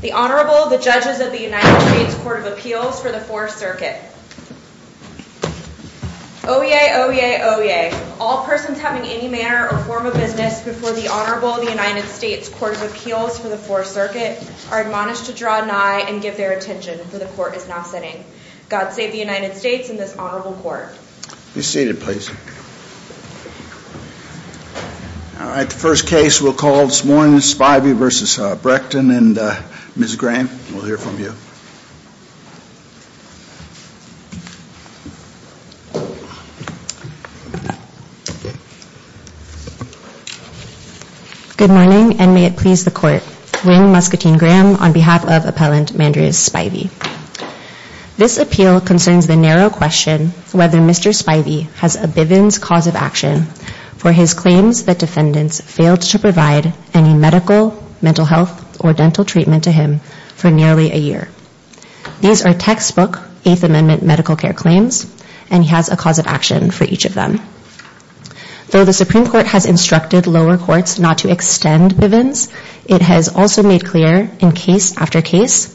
The Honorable, the Judges of the United States Court of Appeals for the Fourth Circuit Oyez! Oyez! Oyez! All persons having any manner or form of business before the Honorable of the United States Court of Appeals for the Fourth Circuit are admonished to draw nigh and give their attention, for the Court is now sitting. God save the United States and this Honorable Court. Be seated please. Alright, the first case we'll call this morning is Spivey v. Breckon and Ms. Graham we'll hear from you. Good morning and may it please the Court, Wing Muscatine Graham on behalf of Appellant Mandriez Spivey. This appeal concerns the narrow question whether Mr. Spivey has a bivens cause of action for his claims that defendants failed to provide any medical, mental health, or dental treatment to him for nearly a year. These are textbook Eighth Amendment medical care claims and he has a cause of action for each of them. Though the Supreme Court has instructed lower courts not to extend bivens, it has also made clear in case after case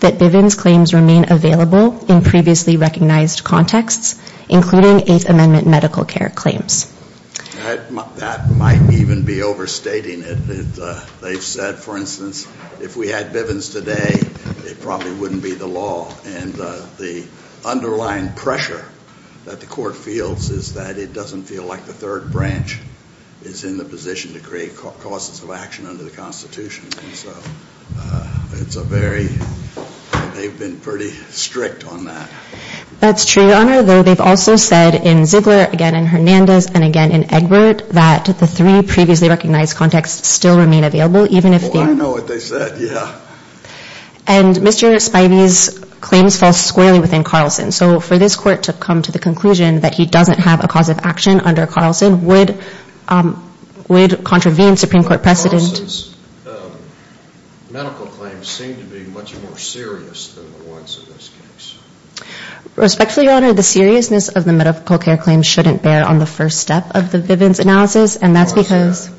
that bivens claims remain available in previously recognized contexts, including Eighth Amendment medical care claims. That might even be overstating it. They've said, for instance, if we had bivens today, it probably wouldn't be the law. And the underlying pressure that the Court feels is that it doesn't feel like the third branch is in the position to create causes of action under the Constitution. And so it's a very, they've been pretty strict on that. That's true, Your Honor, though they've also said in Ziegler, again in Hernandez, and again in Egbert, that the three previously recognized contexts still remain available, even if the Well, I know what they said, yeah. And Mr. Spivey's claims fall squarely within Carlson. So for this Court to come to the conclusion that he doesn't have a cause of action under Carlson would contravene Supreme Court precedent Carlson's medical claims seem to be much more serious than the ones in this case. Respectfully, Your Honor, the seriousness of the medical care claims shouldn't bear on the first step of the bivens analysis, and that's because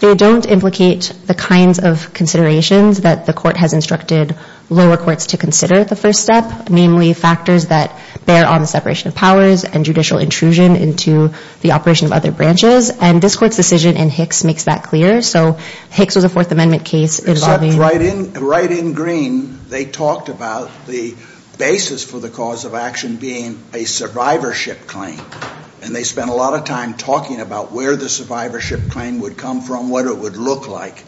they don't implicate the kinds of considerations that the Court has instructed lower courts to consider at the first step, namely factors that bear on the separation of powers and judicial intrusion into the operation of other branches. And this Court's decision in Hicks makes that clear. So Hicks was a Fourth Amendment case. Right in green they talked about the basis for the cause of action being a survivorship claim. And they spent a lot of time talking about where the survivorship claim would come from, what it would look like.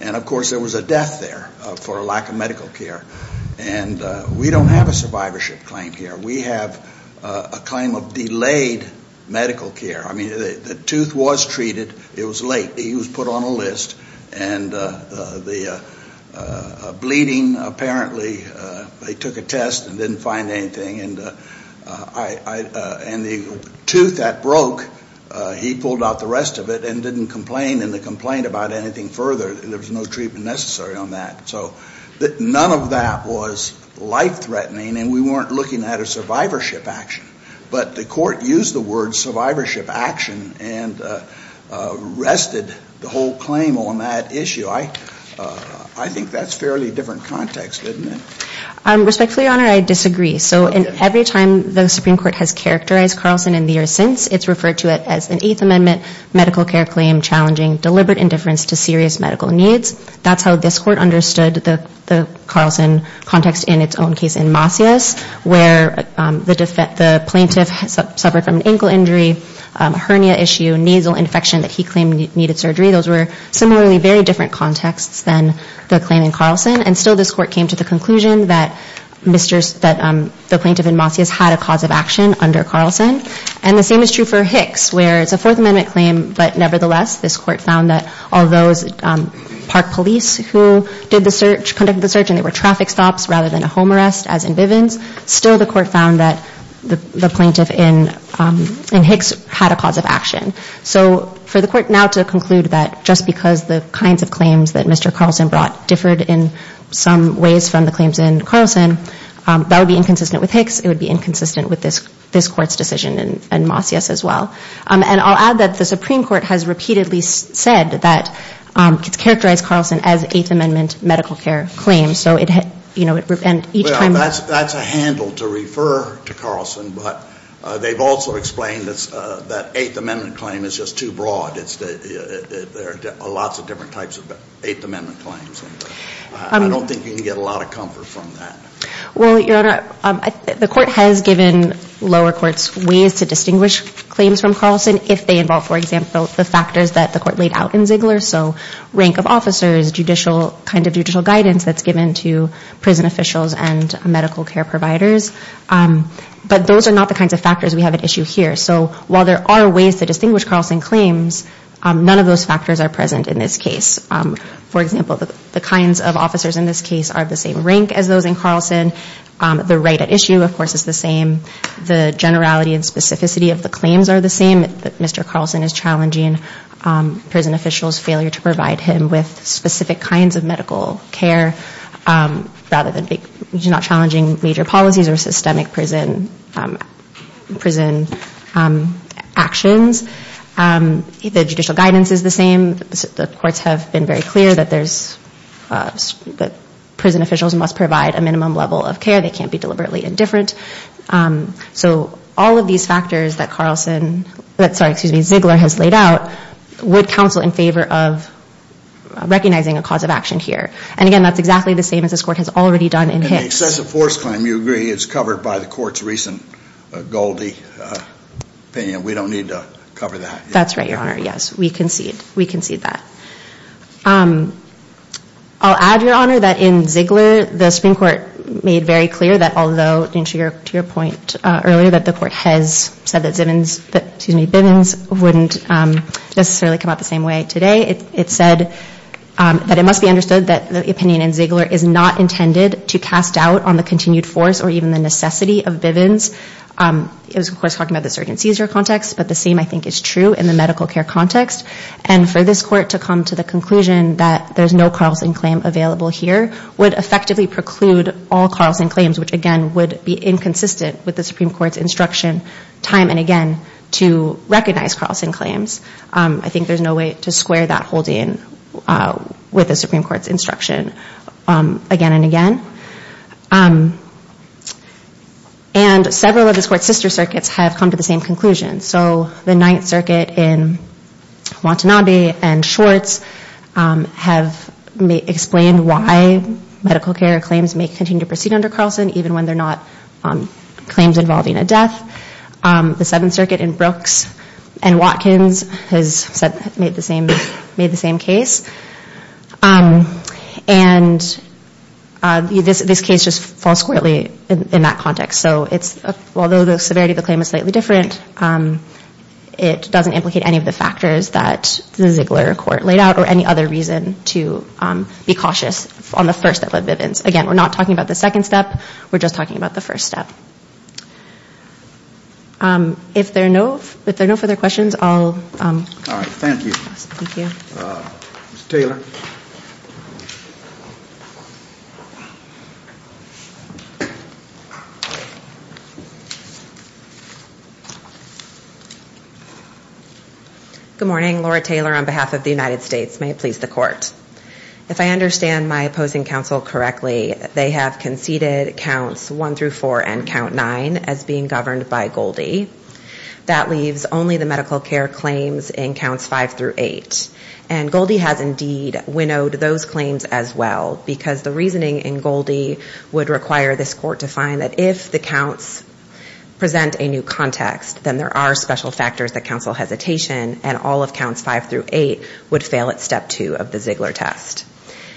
And of course there was a death there for a lack of medical care. And we don't have a survivorship claim here. We have a claim of delayed medical care. I mean, the tooth was treated. It was late. He was put on a list. And the bleeding, apparently, they took a test and didn't find anything. And the tooth that broke, he pulled out the rest of it and didn't complain. And to complain about anything further, there was no treatment necessary on that. So none of that was life-threatening, and we weren't looking at a survivorship action. But the Court used the word survivorship action and rested the whole claim on that issue. I think that's fairly different context, isn't it? Respectfully, Your Honor, I disagree. So every time the Supreme Court has characterized Carlson in the years since, it's referred to it as an Eighth Amendment medical care claim challenging deliberate indifference to serious medical needs. That's how this Court understood the Carlson context in its own case in Masias, where the plaintiff suffered from an ankle injury, a hernia issue, a nasal infection that he claimed needed surgery. Those were similarly very different contexts than the claim in Carlson. And still this Court came to the conclusion that the plaintiff in Masias had a cause of action under Carlson. And the same is true for Hicks, where it's a Fourth Amendment claim, but nevertheless this Court found that all those park police who did the search, conducted the search and they were traffic stops rather than a home arrest, as in Bivens, still the Court found that the plaintiff in Hicks had a cause of action. So for the Court now to conclude that just because the kinds of claims that Mr. Carlson brought differed in some ways from the claims in Carlson, that would be inconsistent with Hicks. It would be inconsistent with this Court's decision in Masias as well. And I'll add that the Supreme Court has repeatedly said that it's characterized Carlson as Eighth Amendment medical care claims. So it, you know, and each time... Well, that's a handle to refer to Carlson, but they've also explained that Eighth Amendment claim is just too broad. There are lots of different types of Eighth Amendment claims. I don't think you can get a lot of comfort from that. Well, Your Honor, the Court has given lower courts ways to distinguish claims from Carlson if they involve, for example, the factors that the Court laid out in Ziegler. So rank of officers, judicial, kind of judicial guidance that's given to prison officials and medical care providers. But those are not the kinds of factors we have at issue here. So while there are ways to distinguish Carlson claims, none of those factors are present in this case. For example, the kinds of officers in this case are of the same rank as those in Carlson. The right at issue, of course, is the same. The generality and specificity of the claims are the same. Mr. Carlson is challenging prison officials' failure to provide him with specific kinds of medical care rather than challenging major policies or systemic prison actions. The judicial guidance is the same. The courts have been very clear that prison officials must provide a minimum level of care. They can't be deliberately indifferent. So all of these factors that Ziegler has laid out would counsel in favor of recognizing a cause of action here. And again, that's exactly the same as this Court has already done in Hicks. And the excessive force claim, you agree, is covered by the Court's recent Goldie opinion. We don't need to cover that. That's right, Your Honor, yes. We concede. We concede that. I'll add, Your Honor, that in Ziegler, the Supreme Court made very clear that although, to your point earlier, that the Court has said that Bivens wouldn't necessarily come out the same way today, it said that it must be understood that the opinion in Ziegler is not intended to cast doubt on the continued force or even the necessity of Bivens. It was, of course, talking about the Surgeon Caesar context, but the same, I think, is true in the medical care context. And for this Court to come to the conclusion that there's no Carlson claim available here would effectively preclude all Carlson claims, which, again, would be inconsistent with the Supreme Court's instruction time and again to recognize Carlson claims. I think there's no way to square that holding with the Supreme Court's instruction again and again. And several of this Court's sister circuits have come to the same conclusion. So the Ninth Circuit in Watanabe and Schwartz have explained why medical care claims may continue to proceed under Carlson, even when they're not claims involving a death. The Seventh Circuit in Brooks and Watkins has made the same case. And this case just falls squarely in that context. So although the severity of the claim is slightly different, it doesn't implicate any of the factors that the Ziegler Court laid out or any other reason to be cautious on the first step of Bivens. Again, we're not talking about the second step. We're just talking about the first step. If there are no further questions, I'll... All right. Thank you. Thank you. Good morning. Laura Taylor on behalf of the United States. May it please the Court. If I understand my opposing counsel correctly, they have conceded counts one through four and count nine as being governed by Goldie. That leaves only the medical care claims in counts five through eight. And Goldie has indeed winnowed those claims as well, because the reasoning in Goldie would require this Court to find that if the counts present a new context, then there are special factors that counsel hesitation, and all of counts five through eight would fail at step two of the Ziegler test.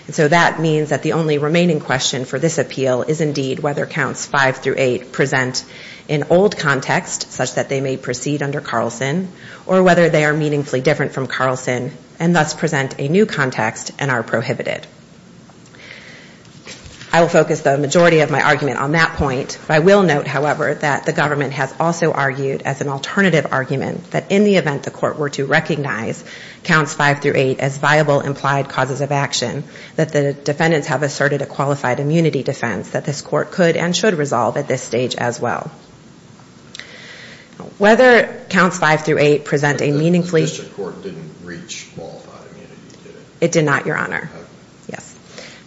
And so that means that the only remaining question for this appeal is indeed whether counts five through eight present an old context, such that they may proceed under Carlson, or whether they are meaningfully different from Carlson, and thus present a new context and are prohibited. I will focus the majority of my argument on that point. I will note, however, that the government has also argued as an alternative argument that in the event the Court were to recognize counts five through eight as viable implied causes of action, that the defendants have asserted a qualified immunity defense that this Court could and should resolve at this stage as well. Whether counts five through eight present a meaningfully ‑‑ The district court didn't reach qualified immunity, did it? It did not, Your Honor. Yes.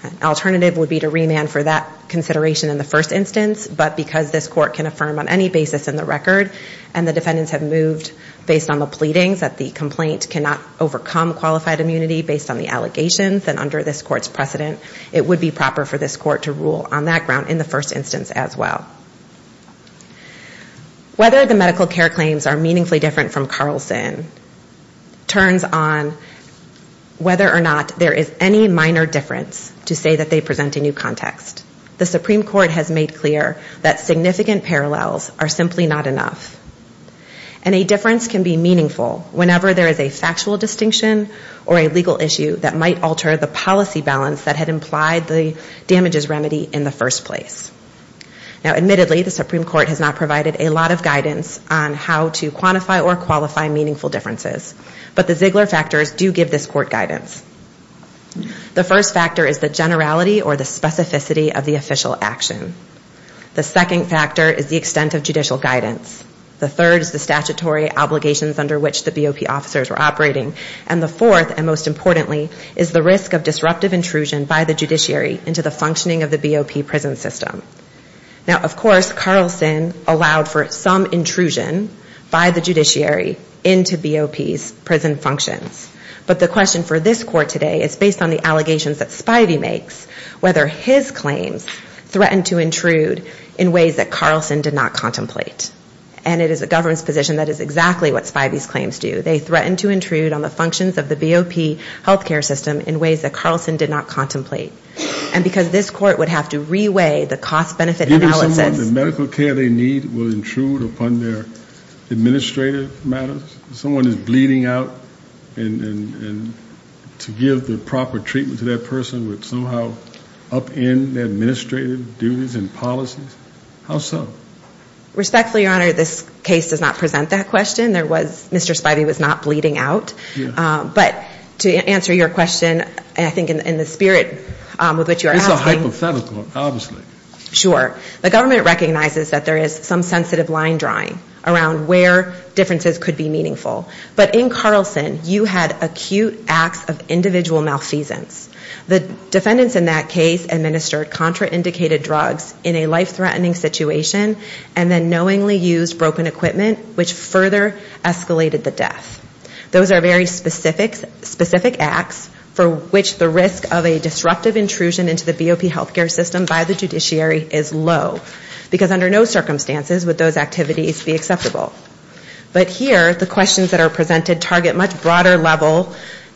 An alternative would be to remand for that consideration in the first instance, but because this Court can affirm on any basis in the record, and the defendants have moved based on the pleadings that the complaint cannot overcome qualified immunity based on the allegations, then under this Court's precedent, it would be proper for this Court to rule on that ground in the first instance as well. Whether the medical care claims are meaningfully different from Carlson turns on whether or not there is any minor difference to say that they present a new context. The Supreme Court has made clear that significant parallels are simply not enough. And a difference can be meaningful whenever there is a factual distinction or a legal issue that might alter the policy balance that had implied the damages remedy in the first place. Now, admittedly, the Supreme Court has not provided a lot of guidance on how to quantify or qualify meaningful differences, but the Ziegler factors do give this Court guidance. The first factor is the generality or the specificity of the official action. The second factor is the extent of judicial guidance. The third is the statutory obligations under which the BOP officers were operating. And the fourth, and most importantly, is the risk of disruptive intrusion by the judiciary into the functioning of the BOP prison system. Now, of course, Carlson allowed for some intrusion by the judiciary into BOP's prison functions. But the question for this Court today is based on the allegations that Spivey makes, whether his claims threatened to intrude in ways that Carlson did not contemplate. And it is the government's position that is exactly what Spivey's claims do. They threatened to intrude on the functions of the BOP health care system in ways that Carlson did not contemplate. And because this Court would have to re-weigh the cost-benefit analysis. Somehow the medical care they need will intrude upon their administrative matters? Someone is bleeding out, and to give the proper treatment to that person would somehow upend their administrative duties and policies? How so? Respectfully, Your Honor, this case does not present that question. There was Mr. Spivey was not bleeding out. But to answer your question, I think in the spirit with which you are asking. It's a hypothetical, obviously. Sure. The government recognizes that there is some sensitive line drawing around where differences could be meaningful. But in Carlson, you had acute acts of individual malfeasance. The defendants in that case administered contraindicated drugs in a life-threatening situation, and then knowingly used broken equipment, which further escalated the death. Those are very specific acts for which the risk of a disruptive intrusion into the BOP health care system by the judiciary is low. Because under no circumstances would those activities be acceptable. But here, the questions that are presented target much broader level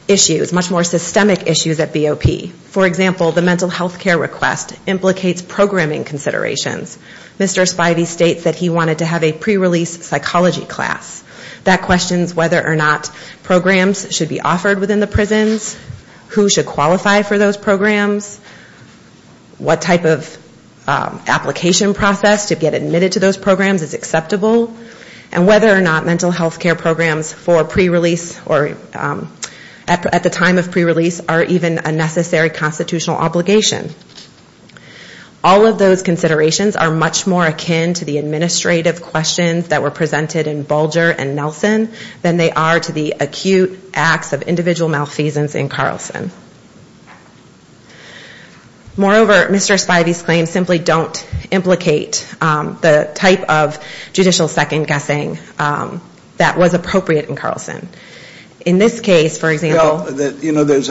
issues, much more systemic issues at BOP. For example, the mental health care request implicates programming considerations. Mr. Spivey states that he wanted to have a pre-release psychology class. That questions whether or not programs should be offered within the prisons. Who should qualify for those programs. What type of application process to get admitted to those programs is acceptable. And whether or not mental health care programs for pre-release or at the time of pre-release are even a necessary constitutional obligation. All of those considerations are much more akin to the administrative questions that were presented in Bulger and Nelson than they are to the acute acts of individual malfeasance in Carlson. Moreover, Mr. Spivey's claims simply don't implicate the type of judicial second-guessing that was appropriate in Carlson. In this case, for example. There's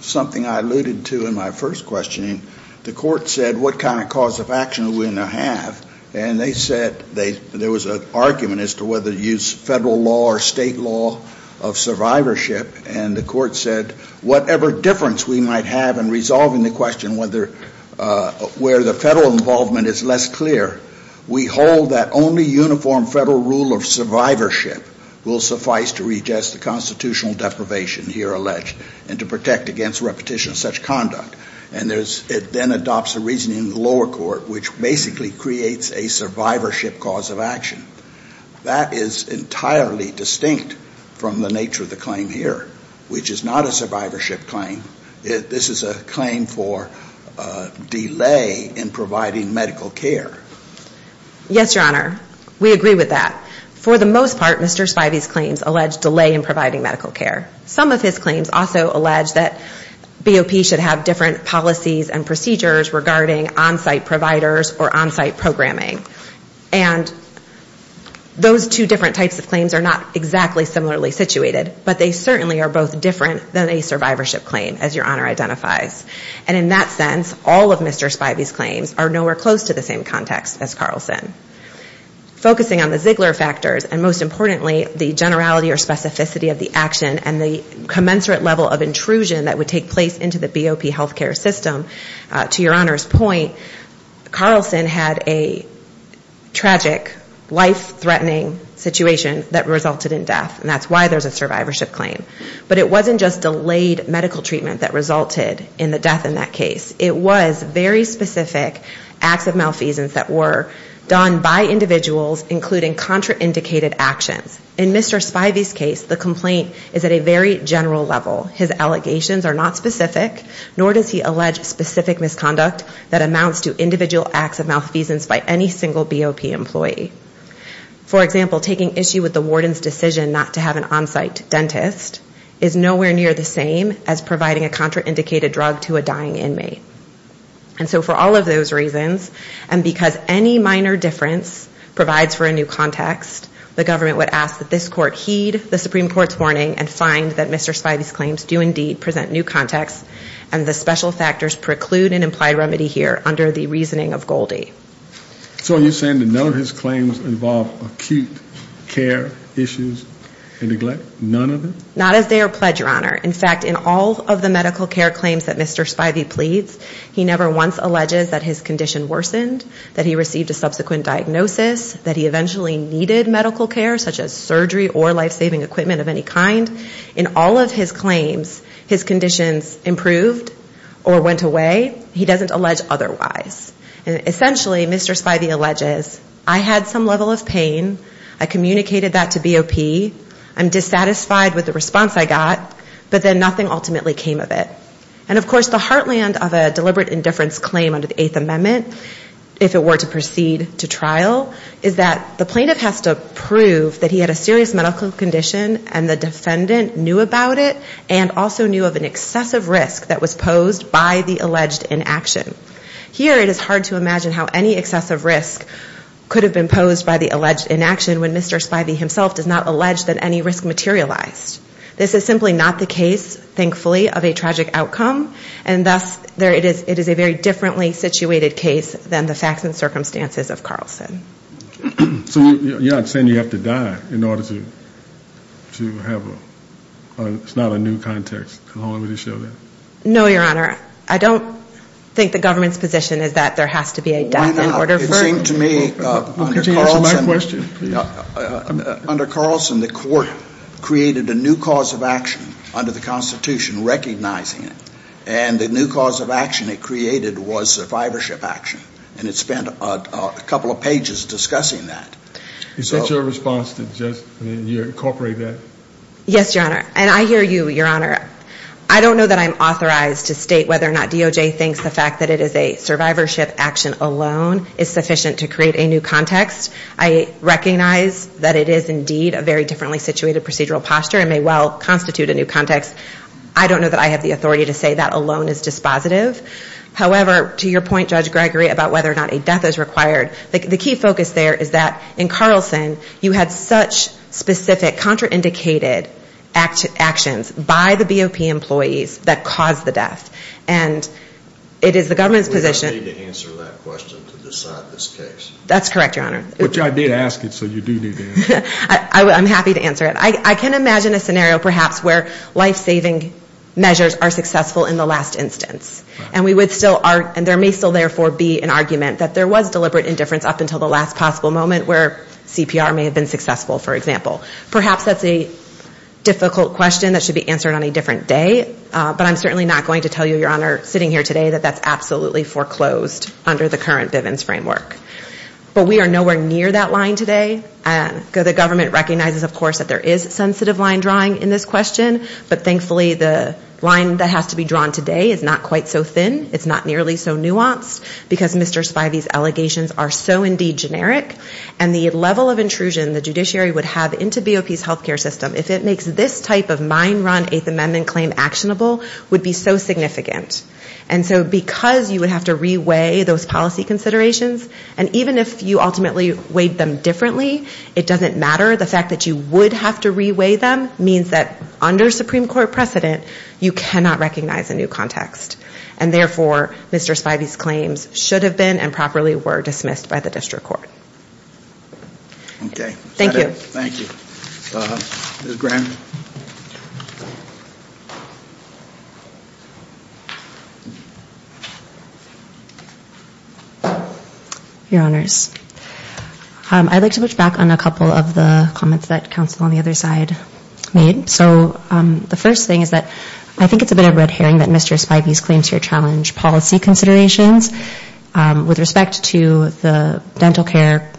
something I alluded to in my first questioning. The court said, what kind of cause of action are we going to have? And they said there was an argument as to whether to use federal law or state law of survivorship. And the court said, whatever difference we might have in resolving the question where the federal involvement is less clear, we hold that only uniform federal rule of survivorship will suffice to readjust the constitutional deprivation here alleged and to protect against repetition of such conduct. And it then adopts a reasoning in the lower court which basically creates a survivorship cause of action. That is entirely distinct from the nature of the claim here, which is not a survivorship claim. This is a claim for delay in providing medical care. Yes, Your Honor. We agree with that. For the most part, Mr. Spivey's claims allege delay in providing medical care. Some of his claims also allege that BOP should have different policies and procedures regarding on-site providers or on-site programming. And those two different types of claims are not exactly similarly situated, but they certainly are both different than a survivorship claim, as Your Honor identifies. And in that sense, all of Mr. Spivey's claims are nowhere close to the same context as Carlson. Focusing on the Ziegler factors and, most importantly, the generality or specificity of the action and the commensurate level of intrusion that would take place into the BOP health care system, to Your Honor's point, Carlson had a tragic, life-threatening situation that resulted in death, and that's why there's a survivorship claim. But it wasn't just delayed medical treatment that resulted in the death in that case. It was very specific acts of malfeasance that were done by individuals, including contraindicated actions. In Mr. Spivey's case, the complaint is at a very general level. His allegations are not specific, nor does he allege specific misconduct that amounts to individual acts of malfeasance by any single BOP employee. For example, taking issue with the warden's decision not to have an on-site dentist is nowhere near the same as providing a contraindicated drug to a dying inmate. And so for all of those reasons, and because any minor difference provides for a new context, the government would ask that this court heed the Supreme Court's warning and find that Mr. Spivey's claims do indeed present new context, and the special factors preclude an implied remedy here under the reasoning of Goldie. So are you saying that none of his claims involve acute care issues and neglect? None of them? Not as they are pledged, Your Honor. In fact, in all of the medical care claims that Mr. Spivey pleads, he never once alleges that his condition worsened, that he received a subsequent diagnosis, that he eventually needed medical care, such as surgery or life-saving equipment of any kind. In all of his claims, his conditions improved or went away. He doesn't allege otherwise. And essentially, Mr. Spivey alleges, I had some level of pain, I communicated that to BOP, I'm dissatisfied with the response I got, but then nothing ultimately came of it. And of course, the heartland of a deliberate indifference claim under the Eighth Amendment, if it were to proceed to trial, is that the plaintiff has to prove that he had a serious medical condition and the defendant knew about it and also knew of an excessive risk that was posed by the alleged inaction. Here it is hard to imagine how any excessive risk could have been posed by the alleged inaction when Mr. Spivey himself does not allege that any risk materialized. This is simply not the case, thankfully, of a tragic outcome, and thus it is a very differently situated case than the facts and circumstances of Carlson. So you're not saying you have to die in order to have a ñ it's not a new context? No, Your Honor. I don't think the government's position is that there has to be a death in order for ñ It seemed to me, under Carlson, the court created a new cause of action under the Constitution recognizing it, and the new cause of action it created was survivorship action, and it spent a couple of pages discussing that. Is that your response to just incorporate that? Yes, Your Honor, and I hear you, Your Honor. I don't know that I'm authorized to state whether or not DOJ thinks the fact that it is a survivorship action alone is sufficient to create a new context. I recognize that it is indeed a very differently situated procedural posture and may well constitute a new context. I don't know that I have the authority to say that alone is dispositive. However, to your point, Judge Gregory, about whether or not a death is required, the key focus there is that in Carlson you had such specific contraindicated actions by the BOP employees that caused the death, and it is the government's position ñ We don't need to answer that question to decide this case. That's correct, Your Honor. Which I did ask it, so you do need to answer it. I'm happy to answer it. I can imagine a scenario perhaps where life-saving measures are successful in the last instance, and there may still therefore be an argument that there was deliberate indifference up until the last possible moment where CPR may have been successful, for example. Perhaps that's a difficult question that should be answered on a different day, but I'm certainly not going to tell you, Your Honor, sitting here today, that that's absolutely foreclosed under the current Bivens framework. But we are nowhere near that line today. The government recognizes, of course, that there is sensitive line drawing in this question, but thankfully the line that has to be drawn today is not quite so thin. It's not nearly so nuanced because Mr. Spivey's allegations are so indeed generic, and the level of intrusion the judiciary would have into BOP's health care system if it makes this type of mind-run Eighth Amendment claim actionable would be so significant. And so because you would have to re-weigh those policy considerations, and even if you ultimately weighed them differently, it doesn't matter the fact that you would have to re-weigh them means that under Supreme Court precedent, you cannot recognize a new context. And therefore, Mr. Spivey's claims should have been and properly were dismissed by the district court. Okay. Thank you. Thank you. Ms. Graham. Your Honors, I'd like to push back on a couple of the comments that counsel on the other side made. So the first thing is that I think it's a bit of red herring that Mr. Spivey's claims here challenge policy considerations. With respect to the dental care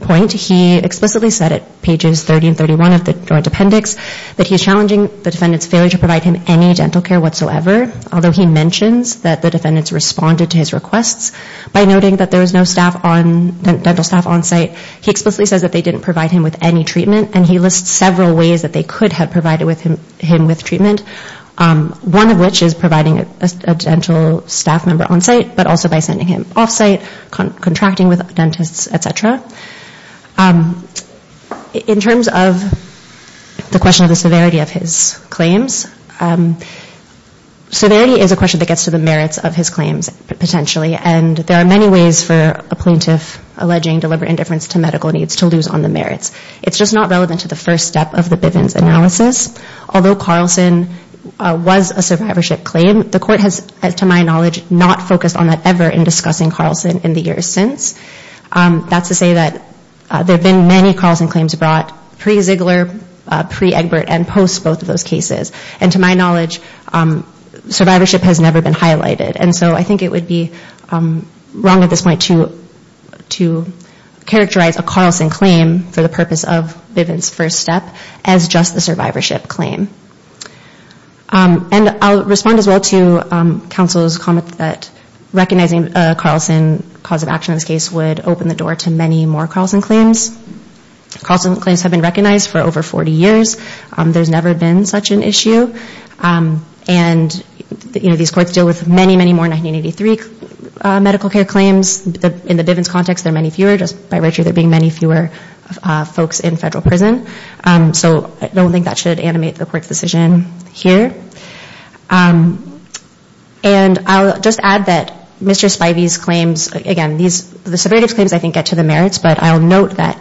point, he explicitly said at pages 30 and 31 of the joint appendix that he's challenging the defendant's failure to provide him any dental care whatsoever, although he mentions that the defendants responded to his requests by noting that there was no dental staff on site. He explicitly says that they didn't provide him with any treatment, and he lists several ways that they could have provided him with treatment, one of which is providing a dental staff member on site, but also by sending him off site, contracting with dentists, et cetera. In terms of the question of the severity of his claims, severity is a question that gets to the merits of his claims potentially, and there are many ways for a plaintiff alleging deliberate indifference to medical needs to lose on the merits. It's just not relevant to the first step of the Bivens analysis. Although Carlson was a survivorship claim, the court has, to my knowledge, not focused on that ever in discussing Carlson in the years since. That's to say that there have been many Carlson claims brought pre-Ziegler, pre-Egbert, and post both of those cases. And to my knowledge, survivorship has never been highlighted. And so I think it would be wrong at this point to characterize a Carlson claim for the purpose of Bivens first step as just the survivorship claim. And I'll respond as well to counsel's comment that recognizing Carlson cause of action in this case would open the door to many more Carlson claims. Carlson claims have been recognized for over 40 years. There's never been such an issue. And, you know, these courts deal with many, many more 1983 medical care claims. In the Bivens context, there are many fewer, just by virtue of there being many fewer folks in federal prison. So I don't think that should animate the court's decision here. And I'll just add that Mr. Spivey's claims, again, the survivorship claims, I think, get to the merits. But I'll note that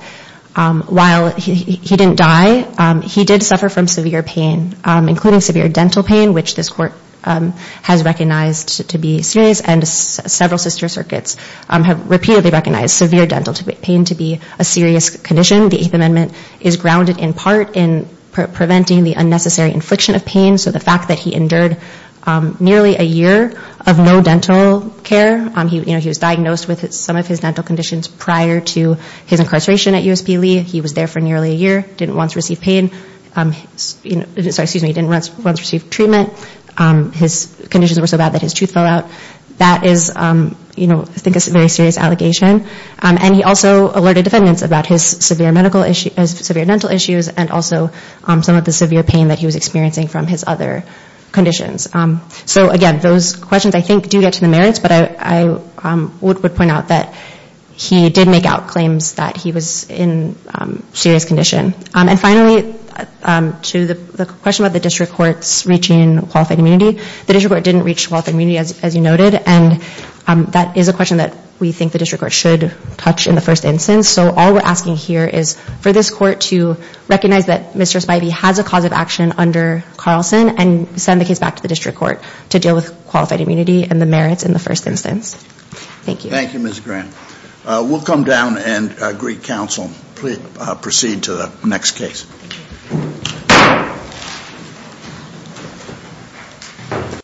while he didn't die, he did suffer from severe pain, including severe dental pain, which this court has recognized to be serious. And several sister circuits have repeatedly recognized severe dental pain to be a serious condition. The Eighth Amendment is grounded in part in preventing the unnecessary infliction of pain. So the fact that he endured nearly a year of no dental care, you know, he was diagnosed with some of his dental conditions prior to his incarceration at USP Lee. He was there for nearly a year, didn't once receive treatment. His conditions were so bad that his tooth fell out. That is, you know, I think a very serious allegation. And he also alerted defendants about his severe dental issues and also some of the severe pain that he was experiencing from his other conditions. So, again, those questions, I think, do get to the merits. But I would point out that he did make out claims that he was in serious condition. And finally, to the question about the district courts reaching qualified immunity, the district court didn't reach qualified immunity, as you noted. And that is a question that we think the district court should touch in the first instance. So all we're asking here is for this court to recognize that Mr. Spivey has a cause of action under Carlson and send the case back to the district court to deal with qualified immunity and the merits in the first instance. Thank you. Thank you, Ms. Grant. We'll come down and greet counsel. Please proceed to the next case.